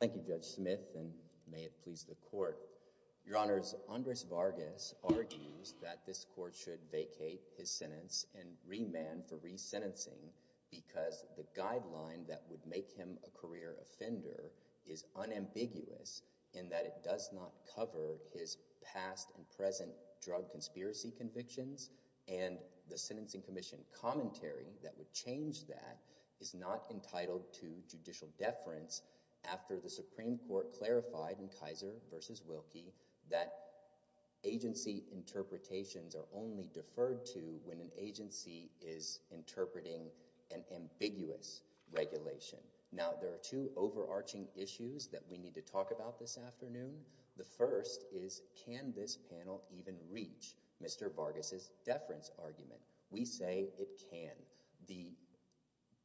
Thank you, Judge Smith, and may it please the court. Your Honors, Andres Vargas argues that this court should vacate his sentence and remand for resentencing because the guideline that would make him a career offender is unambiguous in that it does not cover his past and present drug conspiracy convictions. And the Sentencing Commission commentary that would change that is not entitled to judicial deference after the Supreme Court clarified in Kaiser v. Wilkie that agency interpretations are only deferred to when an agency is interpreting an ambiguous regulation. Now, there are two overarching issues that we need to talk about this afternoon. The first is, can this panel even reach Mr. Vargas' deference argument? We say it can. The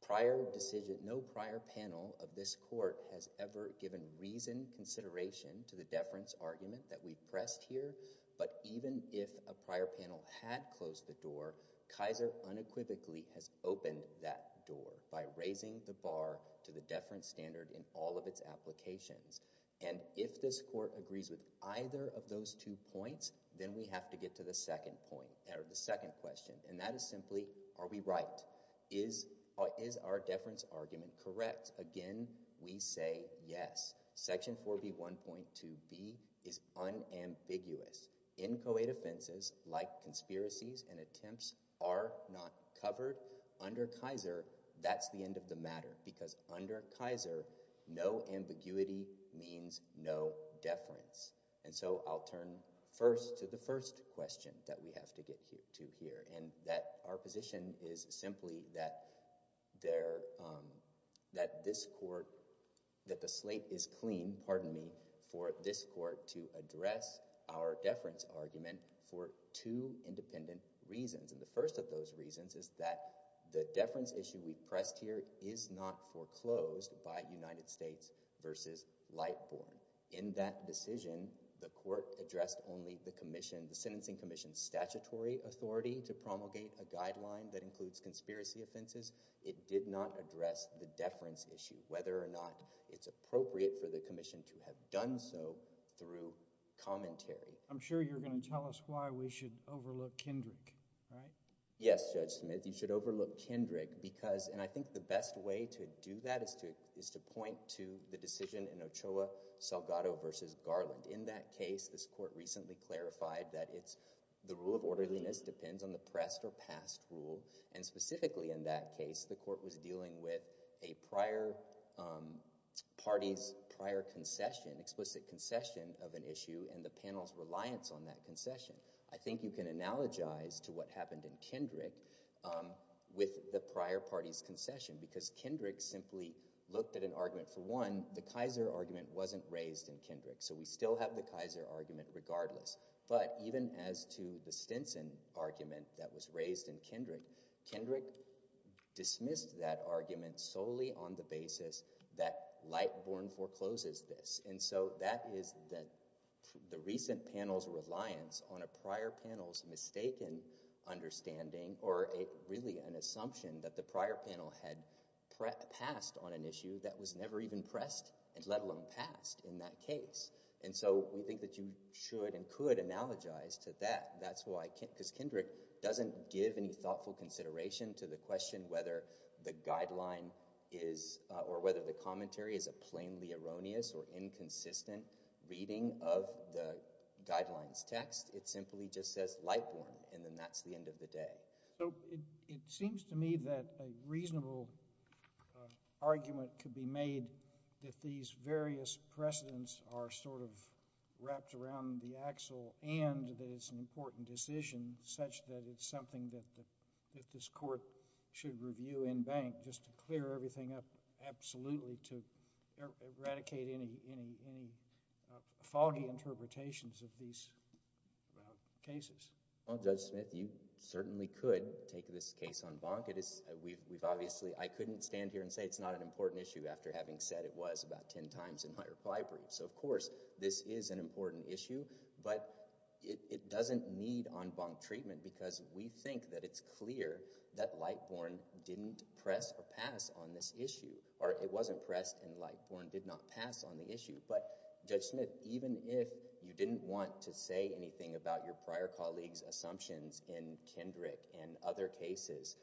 prior decision, no prior panel of this court has ever given reasoned consideration to the deference argument that we've pressed here. But even if a prior panel had closed the door, Kaiser unequivocally has opened that door by raising the bar to the deference standard in all of its applications. And if this court agrees with either of those two points, then we have to get to the second point, or the second question. And that is simply, are we right? Is our deference argument correct? Again, we say yes. Section 4B1.2b is unambiguous. Inchoate offenses, like conspiracies and attempts, are not covered. Under Kaiser, that's the end of the matter. Because under Kaiser, no ambiguity means no deference. And so I'll turn first to the first question that we have to get to here. And that our position is simply that this court, that the slate is clean, pardon me, for this court to address our deference argument for two independent reasons. And the first of those reasons is that the deference issue we pressed here is not foreclosed by United States versus Lightbourne. In that decision, the court addressed only the sentencing commission's statutory authority to promulgate a guideline that includes conspiracy offenses. It did not address the deference issue, whether or not it's appropriate for the commission to have done so through commentary. I'm sure you're going to tell us why we should overlook Kendrick, right? Yes, Judge Smith. You should overlook Kendrick because, and I think the best way to do that is to point to the decision in Ochoa-Salgado versus Garland. In that case, this court recently clarified that the rule of orderliness depends on the pressed or passed rule. And specifically in that case, the court was dealing with a prior party's prior concession, explicit concession of an issue, and the panel's reliance on that concession. I think you can analogize to what happened in Kendrick with the prior party's concession The Kaiser argument wasn't raised in Kendrick. So we still have the Kaiser argument regardless. But even as to the Stinson argument that was raised in Kendrick, Kendrick dismissed that argument solely on the basis that Lightborn forecloses this. And so that is the recent panel's reliance on a prior panel's mistaken understanding, or really an assumption that the prior panel had passed on an issue that was never even pressed, let alone passed in that case. And so we think that you should and could analogize to that. Because Kendrick doesn't give any thoughtful consideration to the question whether the guideline is, or whether the commentary is a plainly erroneous or inconsistent reading of the guidelines text. It simply just says Lightborn, and then that's the end of the day. So it seems to me that a reasonable argument could be made that these various precedents are sort of wrapped around the axle, and that it's an important decision such that it's something that this court should review in bank, just to clear everything up absolutely to eradicate any foggy interpretations of these cases. Judge Smith, you certainly could take this case en banc. I couldn't stand here and say it's not an important issue after having said it was about 10 times in my required briefs. So of course, this is an important issue, but it doesn't need en banc treatment because we think that it's clear that Lightborn didn't press or pass on this issue. Or it wasn't pressed, and Lightborn did not pass on the issue. But Judge Smith, even if you didn't want to say anything about your prior colleagues' assumptions in Kendrick and other cases,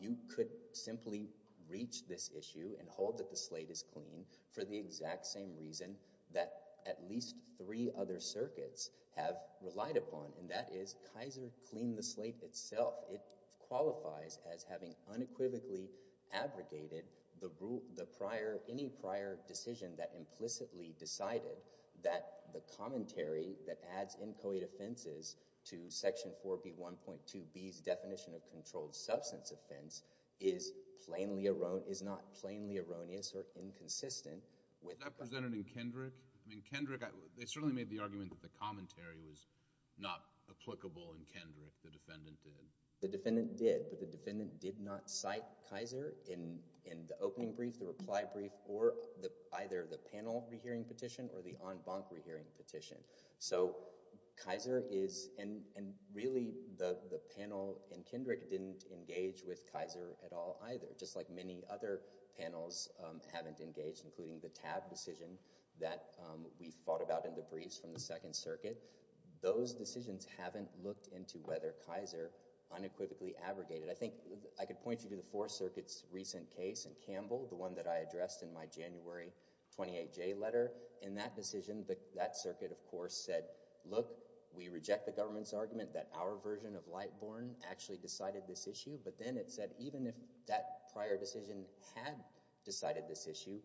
you could simply reach this issue and hold that the slate is clean for the exact same reason that at least three other circuits have relied upon, and that is Kaiser cleaned the slate itself. It qualifies as having unequivocally abrogated any prior decision that implicitly decided that the commentary that adds inchoate offenses to Section 4B 1.2b's definition of controlled substance offense is not plainly erroneous or inconsistent with that. Was that presented in Kendrick? I mean, Kendrick, they certainly made the argument that the commentary was not applicable in Kendrick. The defendant did. The defendant did, but the defendant did not cite Kaiser in the opening brief, the reply brief, or either the panel rehearing petition or the en banc rehearing petition. So Kaiser is, and really, the panel in Kendrick didn't engage with Kaiser at all either, just like many other panels haven't engaged, including the TAB decision that we fought about in the briefs from the Second Circuit. Those decisions haven't looked into whether Kaiser unequivocally abrogated. I think I could point you to the Fourth Circuit's recent case in Campbell, the one that I addressed in my January 28 J letter. said, look, we reject the government's argument that our version of Lightborn actually decided this issue. But then it said, even if that prior decision had decided this issue,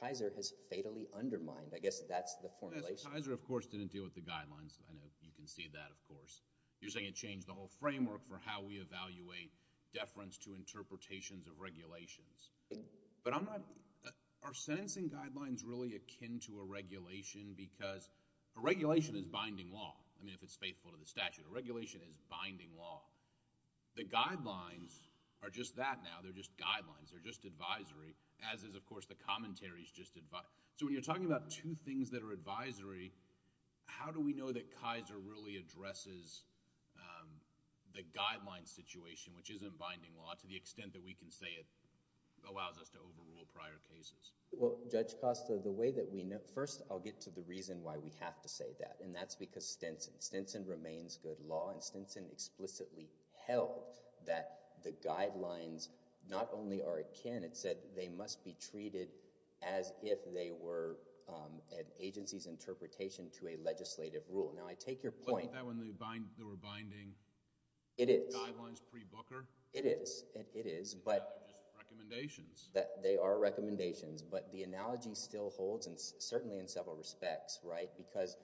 Kaiser has fatally undermined. I guess that's the formulation. Kaiser, of course, didn't deal with the guidelines. I know you can see that, of course. You're saying it changed the whole framework for how we evaluate deference to interpretations of regulations. But I'm not, are sentencing guidelines really akin to a regulation? Because a regulation is binding law. I mean, if it's faithful to the statute. A regulation is binding law. The guidelines are just that now. They're just guidelines. They're just advisory, as is, of course, the commentaries just advised. So when you're talking about two things that are advisory, how do we know that Kaiser really addresses the guideline situation, which isn't binding law, to the extent that we can say it allows us to overrule prior cases? Well, Judge Costa, the way that we know, first, I'll get to the reason why we have to say that. And that's because Stinson. Stinson remains good law. And Stinson explicitly held that the guidelines not only are akin, it said they must be treated as if they were an agency's interpretation to a legislative rule. Now, I take your point. Wasn't that when they were binding guidelines pre-Booker? It is. It is. But they're just recommendations. They are recommendations. But the analogy still holds, and certainly in several respects. Because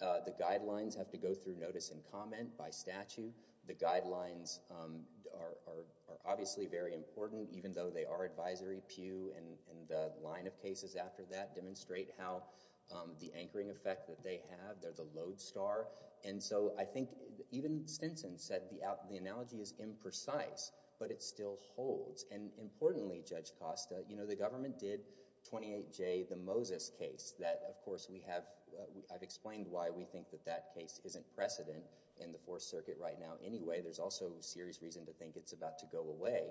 the guidelines have to go through notice and comment by statute. The guidelines are obviously very important, even though they are advisory. Pew and the line of cases after that demonstrate how the anchoring effect that they have. They're the lodestar. And so I think even Stinson said the analogy is imprecise, but it still holds. And importantly, Judge Costa, the government did 28J, the Moses case. Of course, I've explained why we think that that case isn't precedent in the Fourth Circuit right now anyway. There's also serious reason to think it's about to go away.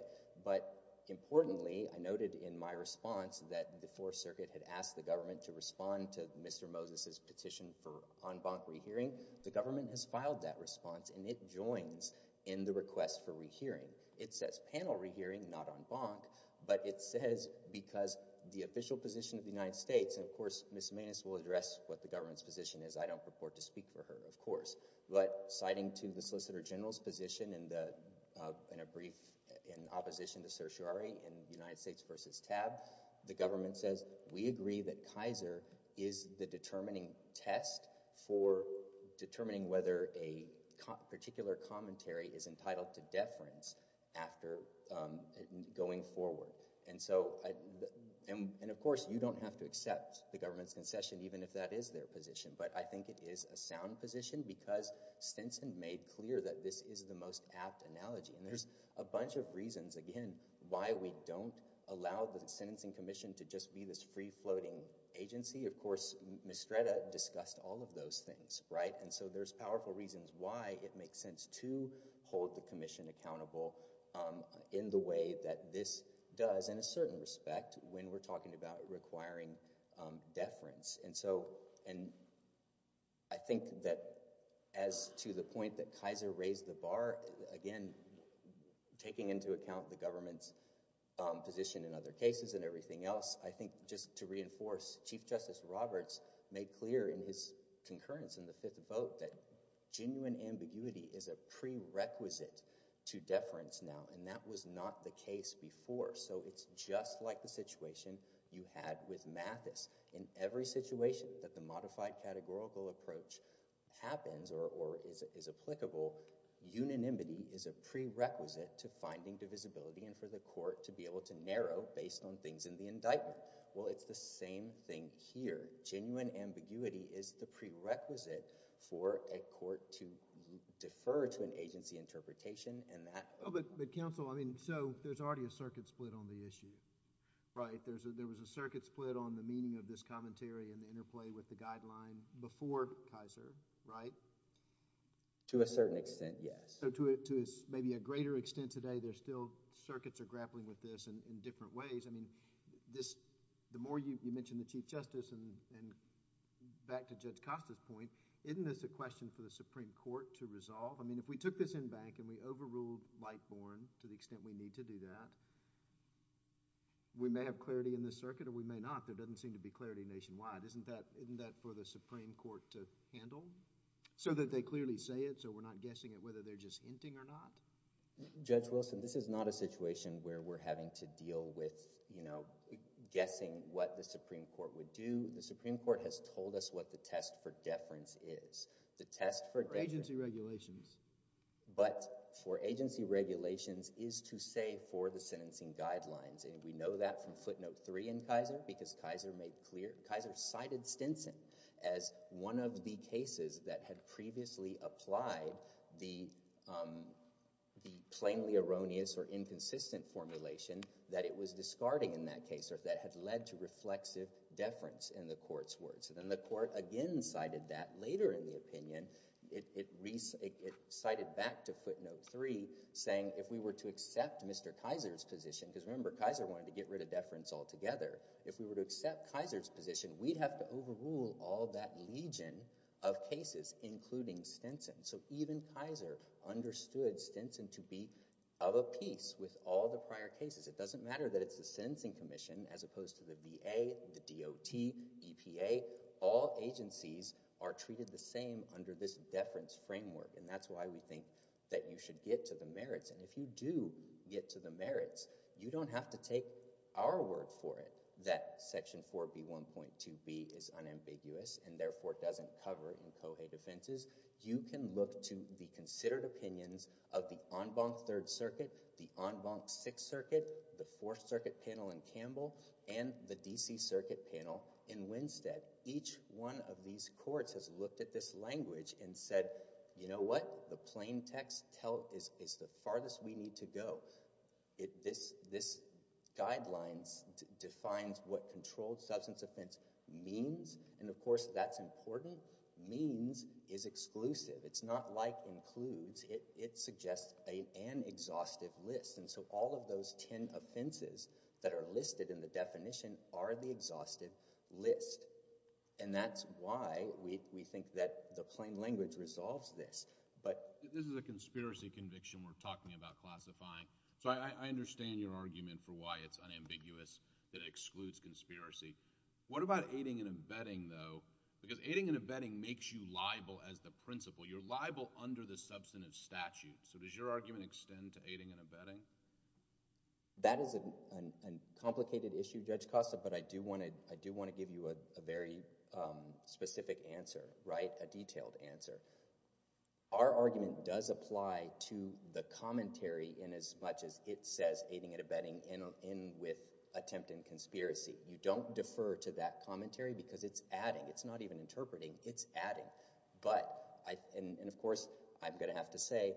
But importantly, I noted in my response that the Fourth Circuit had asked the government to respond to Mr. Moses's petition for en banc rehearing. The government has filed that response, and it joins in the request for rehearing. It says panel rehearing, not en banc. But it says because the official position of the United States, and of course, Ms. Maness will address what the government's position is. I don't purport to speak for her, of course. But citing to the Solicitor General's position in a brief in opposition to certiorari in United States versus TAB, the government says, we agree that Kaiser is the determining test for determining whether a particular commentary is entitled to deference after going forward. And so, and of course, you don't have to accept the government's concession, even if that is their position. But I think it is a sound position, because Stinson made clear that this is the most apt analogy. And there's a bunch of reasons, again, why we don't allow the sentencing commission to just be this free-floating agency. Of course, Mistretta discussed all of those things, right? And so there's powerful reasons why it makes sense to hold the commission accountable in the way that this does in a certain respect when we're talking about requiring deference. And I think that as to the point that Kaiser raised the bar, again, taking into account the government's position in other cases and everything else, I think just to reinforce, Chief Justice Roberts made clear in his concurrence in the fifth vote that genuine ambiguity is a prerequisite to deference now. And that was not the case before. So it's just like the situation you had with Mathis. In every situation that the modified categorical approach happens or is applicable, unanimity is a prerequisite to finding divisibility and for the court to be able to narrow based on things in the indictment. Well, it's the same thing here. Genuine ambiguity is the prerequisite for a court to defer to an agency interpretation. But counsel, I mean, so there's already a circuit split on the issue, right? There was a circuit split on the meaning of this commentary and the interplay with the guideline before Kaiser, right? To a certain extent, yes. So to maybe a greater extent today, there's still circuits are grappling with this in different ways. I mean, the more you mention the Chief Justice and back to Judge Costa's point, isn't this a question for the Supreme Court to resolve? I mean, if we took this in bank and we overruled Lightborn to the extent we need to do that, we may have clarity in the circuit or we may not. There doesn't seem to be clarity nationwide. Isn't that for the Supreme Court to handle so that they clearly say it so we're not guessing it whether they're just hinting or not? Judge Wilson, this is not a situation where we're having to deal with guessing what the Supreme Court would do. The Supreme Court has told us what the test for deference is. The test for deference. Agency regulations. But for agency regulations is to say for the sentencing guidelines. And we know that from footnote three in Kaiser because Kaiser made clear. Kaiser cited Stinson as one of the cases that had previously applied the plainly erroneous or inconsistent formulation that it was discarding in that case or that had led to reflexive deference in the court's words. And then the court again cited that later in the opinion. It cited back to footnote three saying if we were to accept Mr. Kaiser's position, because remember Kaiser wanted to get rid of deference altogether. If we were to accept Kaiser's position, we'd have to overrule all that legion of cases, including Stinson. So even Kaiser understood Stinson to be of a piece with all the prior cases. It doesn't matter that it's the Sentencing Commission as opposed to the VA, the DOT, EPA. All agencies are treated the same under this deference framework. And that's why we think that you should get to the merits. And if you do get to the merits, you don't have to take our word for it that section 4B1.2b is unambiguous and therefore doesn't cover in COHEA defenses. You can look to the considered opinions of the en banc Third Circuit, the en banc Sixth Circuit, the Fourth Circuit panel in Campbell, and the DC Circuit panel in Winstead. Each one of these courts has looked at this language and said, you know what? The plain text is the farthest we need to go. This guidelines defines what controlled substance offense means. And of course, that's important. Means is exclusive. It's not like includes. It suggests an exhaustive list. And so all of those 10 offenses that are listed in the definition are the exhaustive list. And that's why we think that the plain language resolves this. But this is a conspiracy conviction we're talking about classifying. So I understand your argument for why it's unambiguous that it excludes conspiracy. What about aiding and abetting, though? Because aiding and abetting makes you liable as the principal. You're liable under the substantive statute. So does your argument extend to aiding and abetting? That is a complicated issue, Judge Costa. But I do want to give you a very specific answer, a detailed answer. Our argument does apply to the commentary in as much as it says aiding and abetting in with attempt and conspiracy. You don't defer to that commentary because it's adding. It's not even interpreting. It's adding. But of course, I'm going to have to say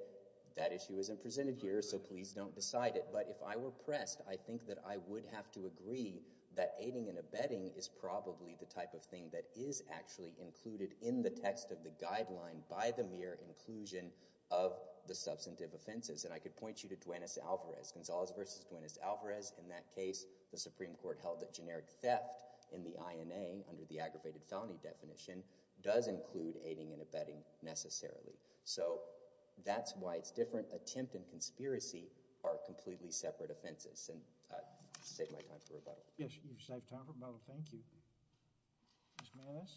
that issue isn't presented here. So please don't decide it. But if I were pressed, I think that I would have to agree that aiding and abetting is probably the type of thing that is actually included in the text of the guideline by the mere inclusion of the substantive offenses. And I could point you to Duanez-Alvarez. Gonzalez versus Duanez-Alvarez. In that case, the Supreme Court held that generic theft in the INA under the aggravated felony definition does include aiding and abetting necessarily. So that's why it's different. Attempt and conspiracy are completely separate offenses. And I'll save my time for rebuttal. Yes, you've saved time for rebuttal. Thank you. Ms. Maness?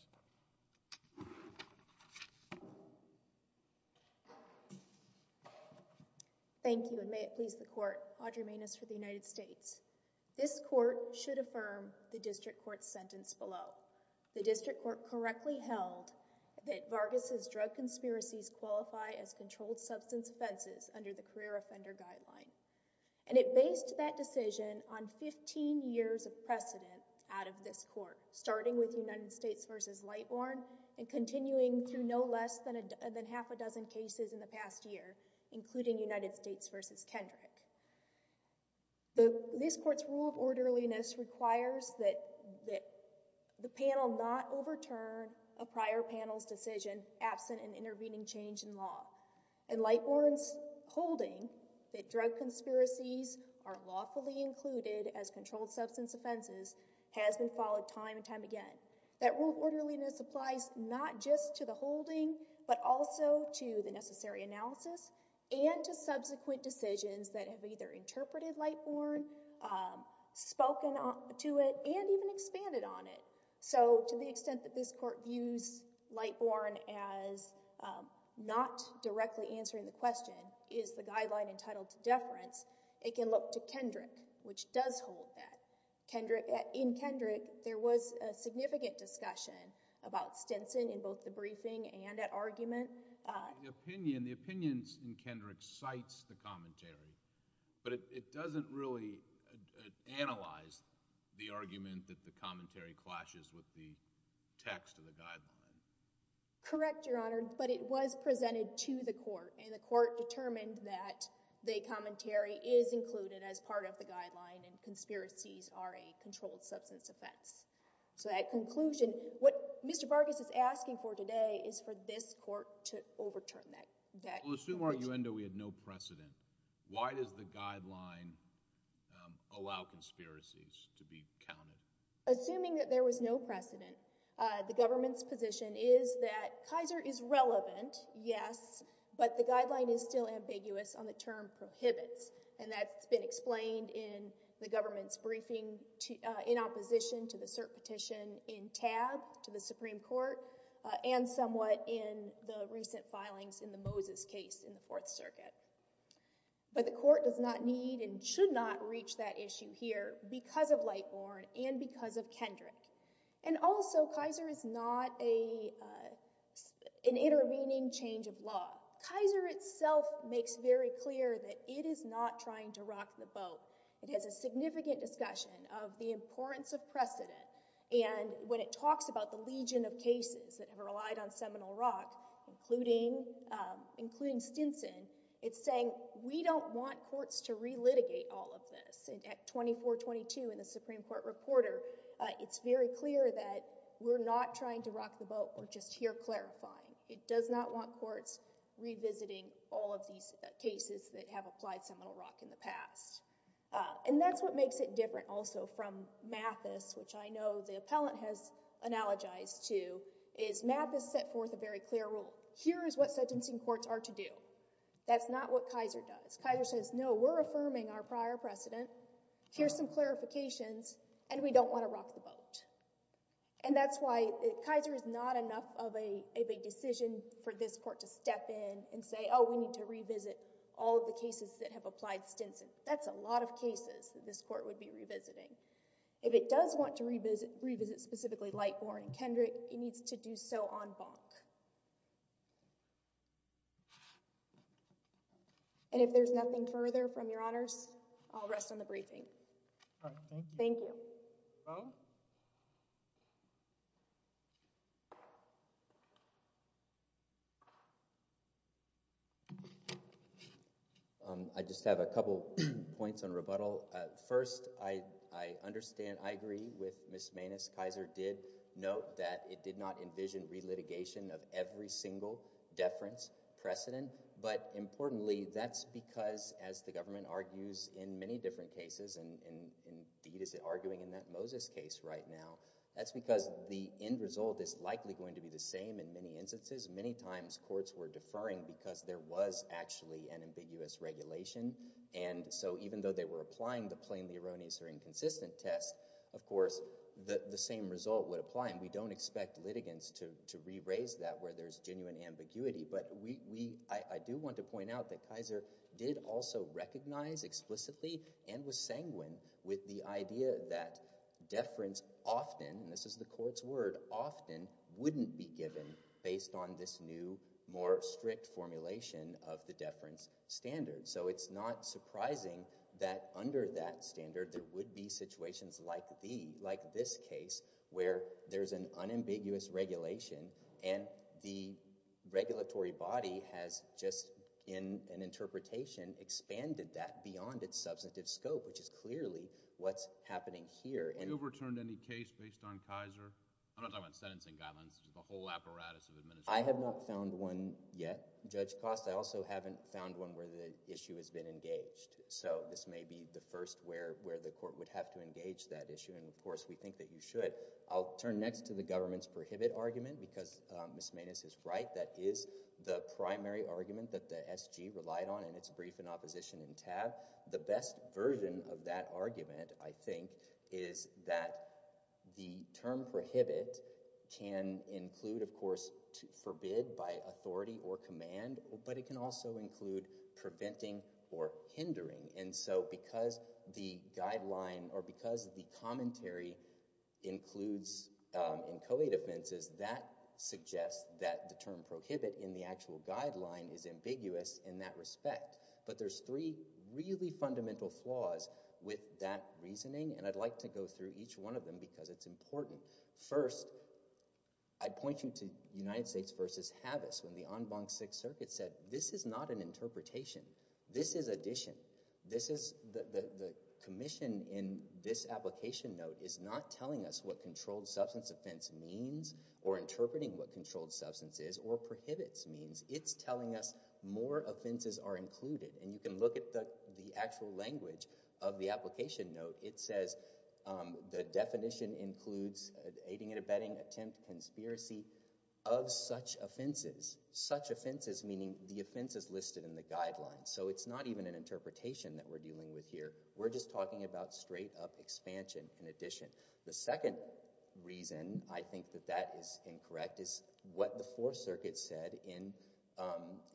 Thank you, and may it please the court. Audrey Maness for the United States. This court should affirm the district court's sentence below. The district court correctly held that Vargas' drug conspiracies qualify as controlled substance offenses under the career offender guideline. And it based that decision on 15 years of precedent out of this court, starting with United States versus Lightborn and continuing through no less than half a dozen cases in the past year, including United States versus Kendrick. This court's rule of orderliness requires that the panel not overturn a prior panel's decision absent an intervening change in law. And Lightborn's holding that drug conspiracies are lawfully included as controlled substance offenses has been followed time and time again. That rule of orderliness applies not just to the holding, but also to the necessary analysis and to subsequent decisions that have either interpreted Lightborn, spoken to it, and even expanded on it. So to the extent that this court views Lightborn as not directly answering the question, is the guideline entitled to deference, it can look to Kendrick, which does hold that. In Kendrick, there was a significant discussion about Stinson in both the briefing and at argument. The opinions in Kendrick cites the commentary, but it doesn't really analyze the argument that the commentary clashes with the text of the guideline. Correct, Your Honor, but it was presented to the court. And the court determined that the commentary is included as part of the guideline and conspiracies are a controlled substance offense. So that conclusion, what Mr. Vargas is asking for today is for this court to overturn that. Well, assume our uendo we had no precedent. Why does the guideline allow conspiracies to be counted? Assuming that there was no precedent, the government's position is that Kaiser is relevant, yes, but the guideline is still ambiguous on the term prohibits. And that's been explained in the government's briefing in opposition to the cert petition in TAB, to the Supreme Court, and somewhat in the recent filings in the Moses case in the Fourth Circuit. But the court does not need and should not reach that issue here because of Lightborn and because of Kendrick. And also, Kaiser is not an intervening change of law. Kaiser itself makes very clear that it is not trying to rock the boat. It has a significant discussion of the importance of precedent. And when it talks about the legion of cases that have relied on Seminole Rock, including Stinson, it's saying, we don't want courts to relitigate all of this. And at 2422 in the Supreme Court Reporter, it's very clear that we're not trying to rock the boat. We're just here clarifying. It does not want courts revisiting all of these cases that have applied Seminole Rock in the past. And that's what makes it different also from Mathis, which I know the appellant has analogized to, is Mathis set forth a very clear rule. Here is what sentencing courts are to do. That's not what Kaiser does. Kaiser says, no, we're affirming our prior precedent. Here's some clarifications. And we don't want to rock the boat. And that's why Kaiser is not enough of a big decision for this court to step in and say, oh, we need to revisit all of the cases that have applied Stinson. That's a lot of cases that this court would be revisiting. If it does want to revisit specifically Lightborn and Kendrick, it needs to do so on Bonk. And if there's nothing further from your honors, I'll rest on the briefing. Thank you. I just have a couple points on rebuttal. First, I understand, I agree with Ms. Mainis. Kaiser did note that it did not envision relitigation of every single deference precedent. But importantly, that's because, as the government argues in many different cases, and indeed is arguing in that Moses case right now, that's because the end result is likely going to be the same in many instances. Many times, courts were deferring because there was actually an ambiguous regulation. And so even though they were applying the plainly erroneous or inconsistent test, of course, the same result would apply. And we don't expect litigants to re-raise that where there's genuine ambiguity. But I do want to point out that Kaiser did also recognize explicitly and was sanguine with the idea that deference often, and this is the court's word, often wouldn't be given based on this new, more strict formulation of the deference standard. So it's not surprising that under that standard, there would be situations like this case, where there's an unambiguous regulation, and the regulatory body has just, in an interpretation, expanded that beyond its substantive scope, which is clearly what's happening here. Have you overturned any case based on Kaiser? I'm not talking about sentencing guidelines. It's the whole apparatus of administration. I have not found one yet, Judge Costa. I also haven't found one where the issue has been engaged. So this may be the first where the court would have to engage that issue. And of course, we think that you should. I'll turn next to the government's prohibit argument, because Ms. Maness is right. That is the primary argument that the SG relied on in its brief in opposition in TAB. The best version of that argument, I think, is that the term prohibit can include, of course, forbid by authority or command. But it can also include preventing or hindering. And so because the guideline, or because the commentary, includes in co-aid offenses, that suggests that the term prohibit in the actual guideline is ambiguous in that respect. But there's three really fundamental flaws with that reasoning, and I'd like to go through each one of them, because it's important. First, I'd point you to United States versus Havis, when the en banc Sixth Circuit said, this is not an interpretation. This is addition. The commission in this application note is not telling us what controlled substance offense means, or interpreting what controlled substance is, or prohibits means. It's telling us more offenses are included. And you can look at the actual language of the application note. It says, the definition includes aiding and abetting, attempt, conspiracy of such offenses. Such offenses, meaning the offenses listed in the guideline. So it's not even an interpretation that we're dealing with here. We're just talking about straight up expansion and addition. The second reason I think that that is incorrect is what the Fourth Circuit said in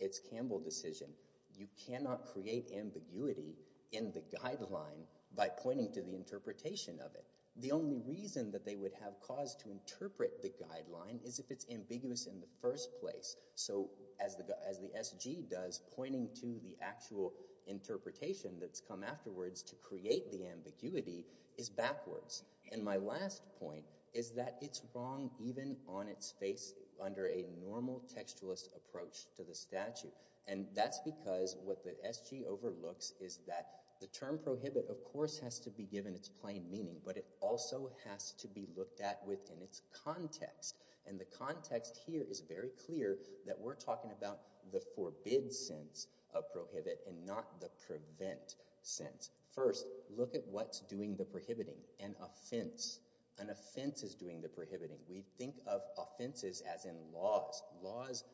its Campbell decision. You cannot create ambiguity in the guideline by pointing to the interpretation of it. The only reason that they would have cause to interpret the guideline is if it's ambiguous in the first place. So as the SG does, pointing to the actual interpretation that's come afterwards to create the ambiguity is backwards. And my last point is that it's wrong even on its face under a normal textualist approach to the statute. And that's because what the SG overlooks is that the term prohibit, of course, has to be given its plain meaning. But it also has to be looked at within its context. And the context here is very clear that we're talking about the forbid sense of prohibit and not the prevent sense. First, look at what's doing the prohibiting, an offense. An offense is doing the prohibiting. We think of offenses as in laws. Laws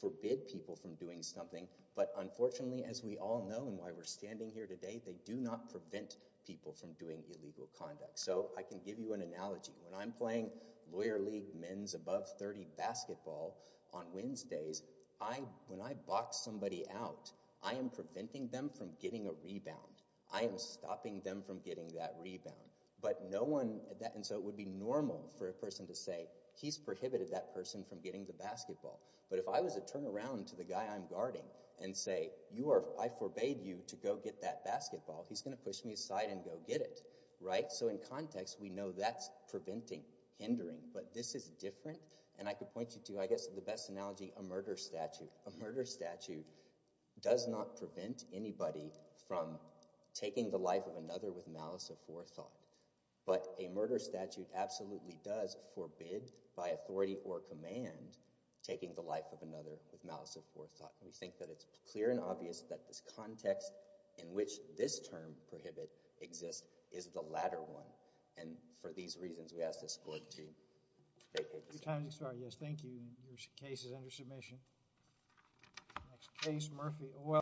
forbid people from doing something. But unfortunately, as we all know and why we're standing here today, they do not prevent people from doing illegal conduct. So I can give you an analogy. When I'm playing Lawyer League men's above 30 basketball on Wednesdays, when I box somebody out, I am preventing them from getting a rebound. I am stopping them from getting that rebound. And so it would be normal for a person to say, he's prohibited that person from getting the basketball. But if I was to turn around to the guy I'm guarding and say, I forbade you to go get that basketball, he's going to push me aside and go get it. So in context, we know that's preventing, hindering. But this is different. And I could point you to, I guess, the best analogy, a murder statute. A murder statute does not prevent anybody from taking the life of another with malice of forethought. But a murder statute absolutely does forbid by authority or command taking the life of another with malice of forethought. We think that it's clear and obvious that this context in which this term, prohibit, exists is the latter one. And for these reasons, we ask this court to take it. Your time has expired. Yes, thank you. Your case is under submission. Case Murphy.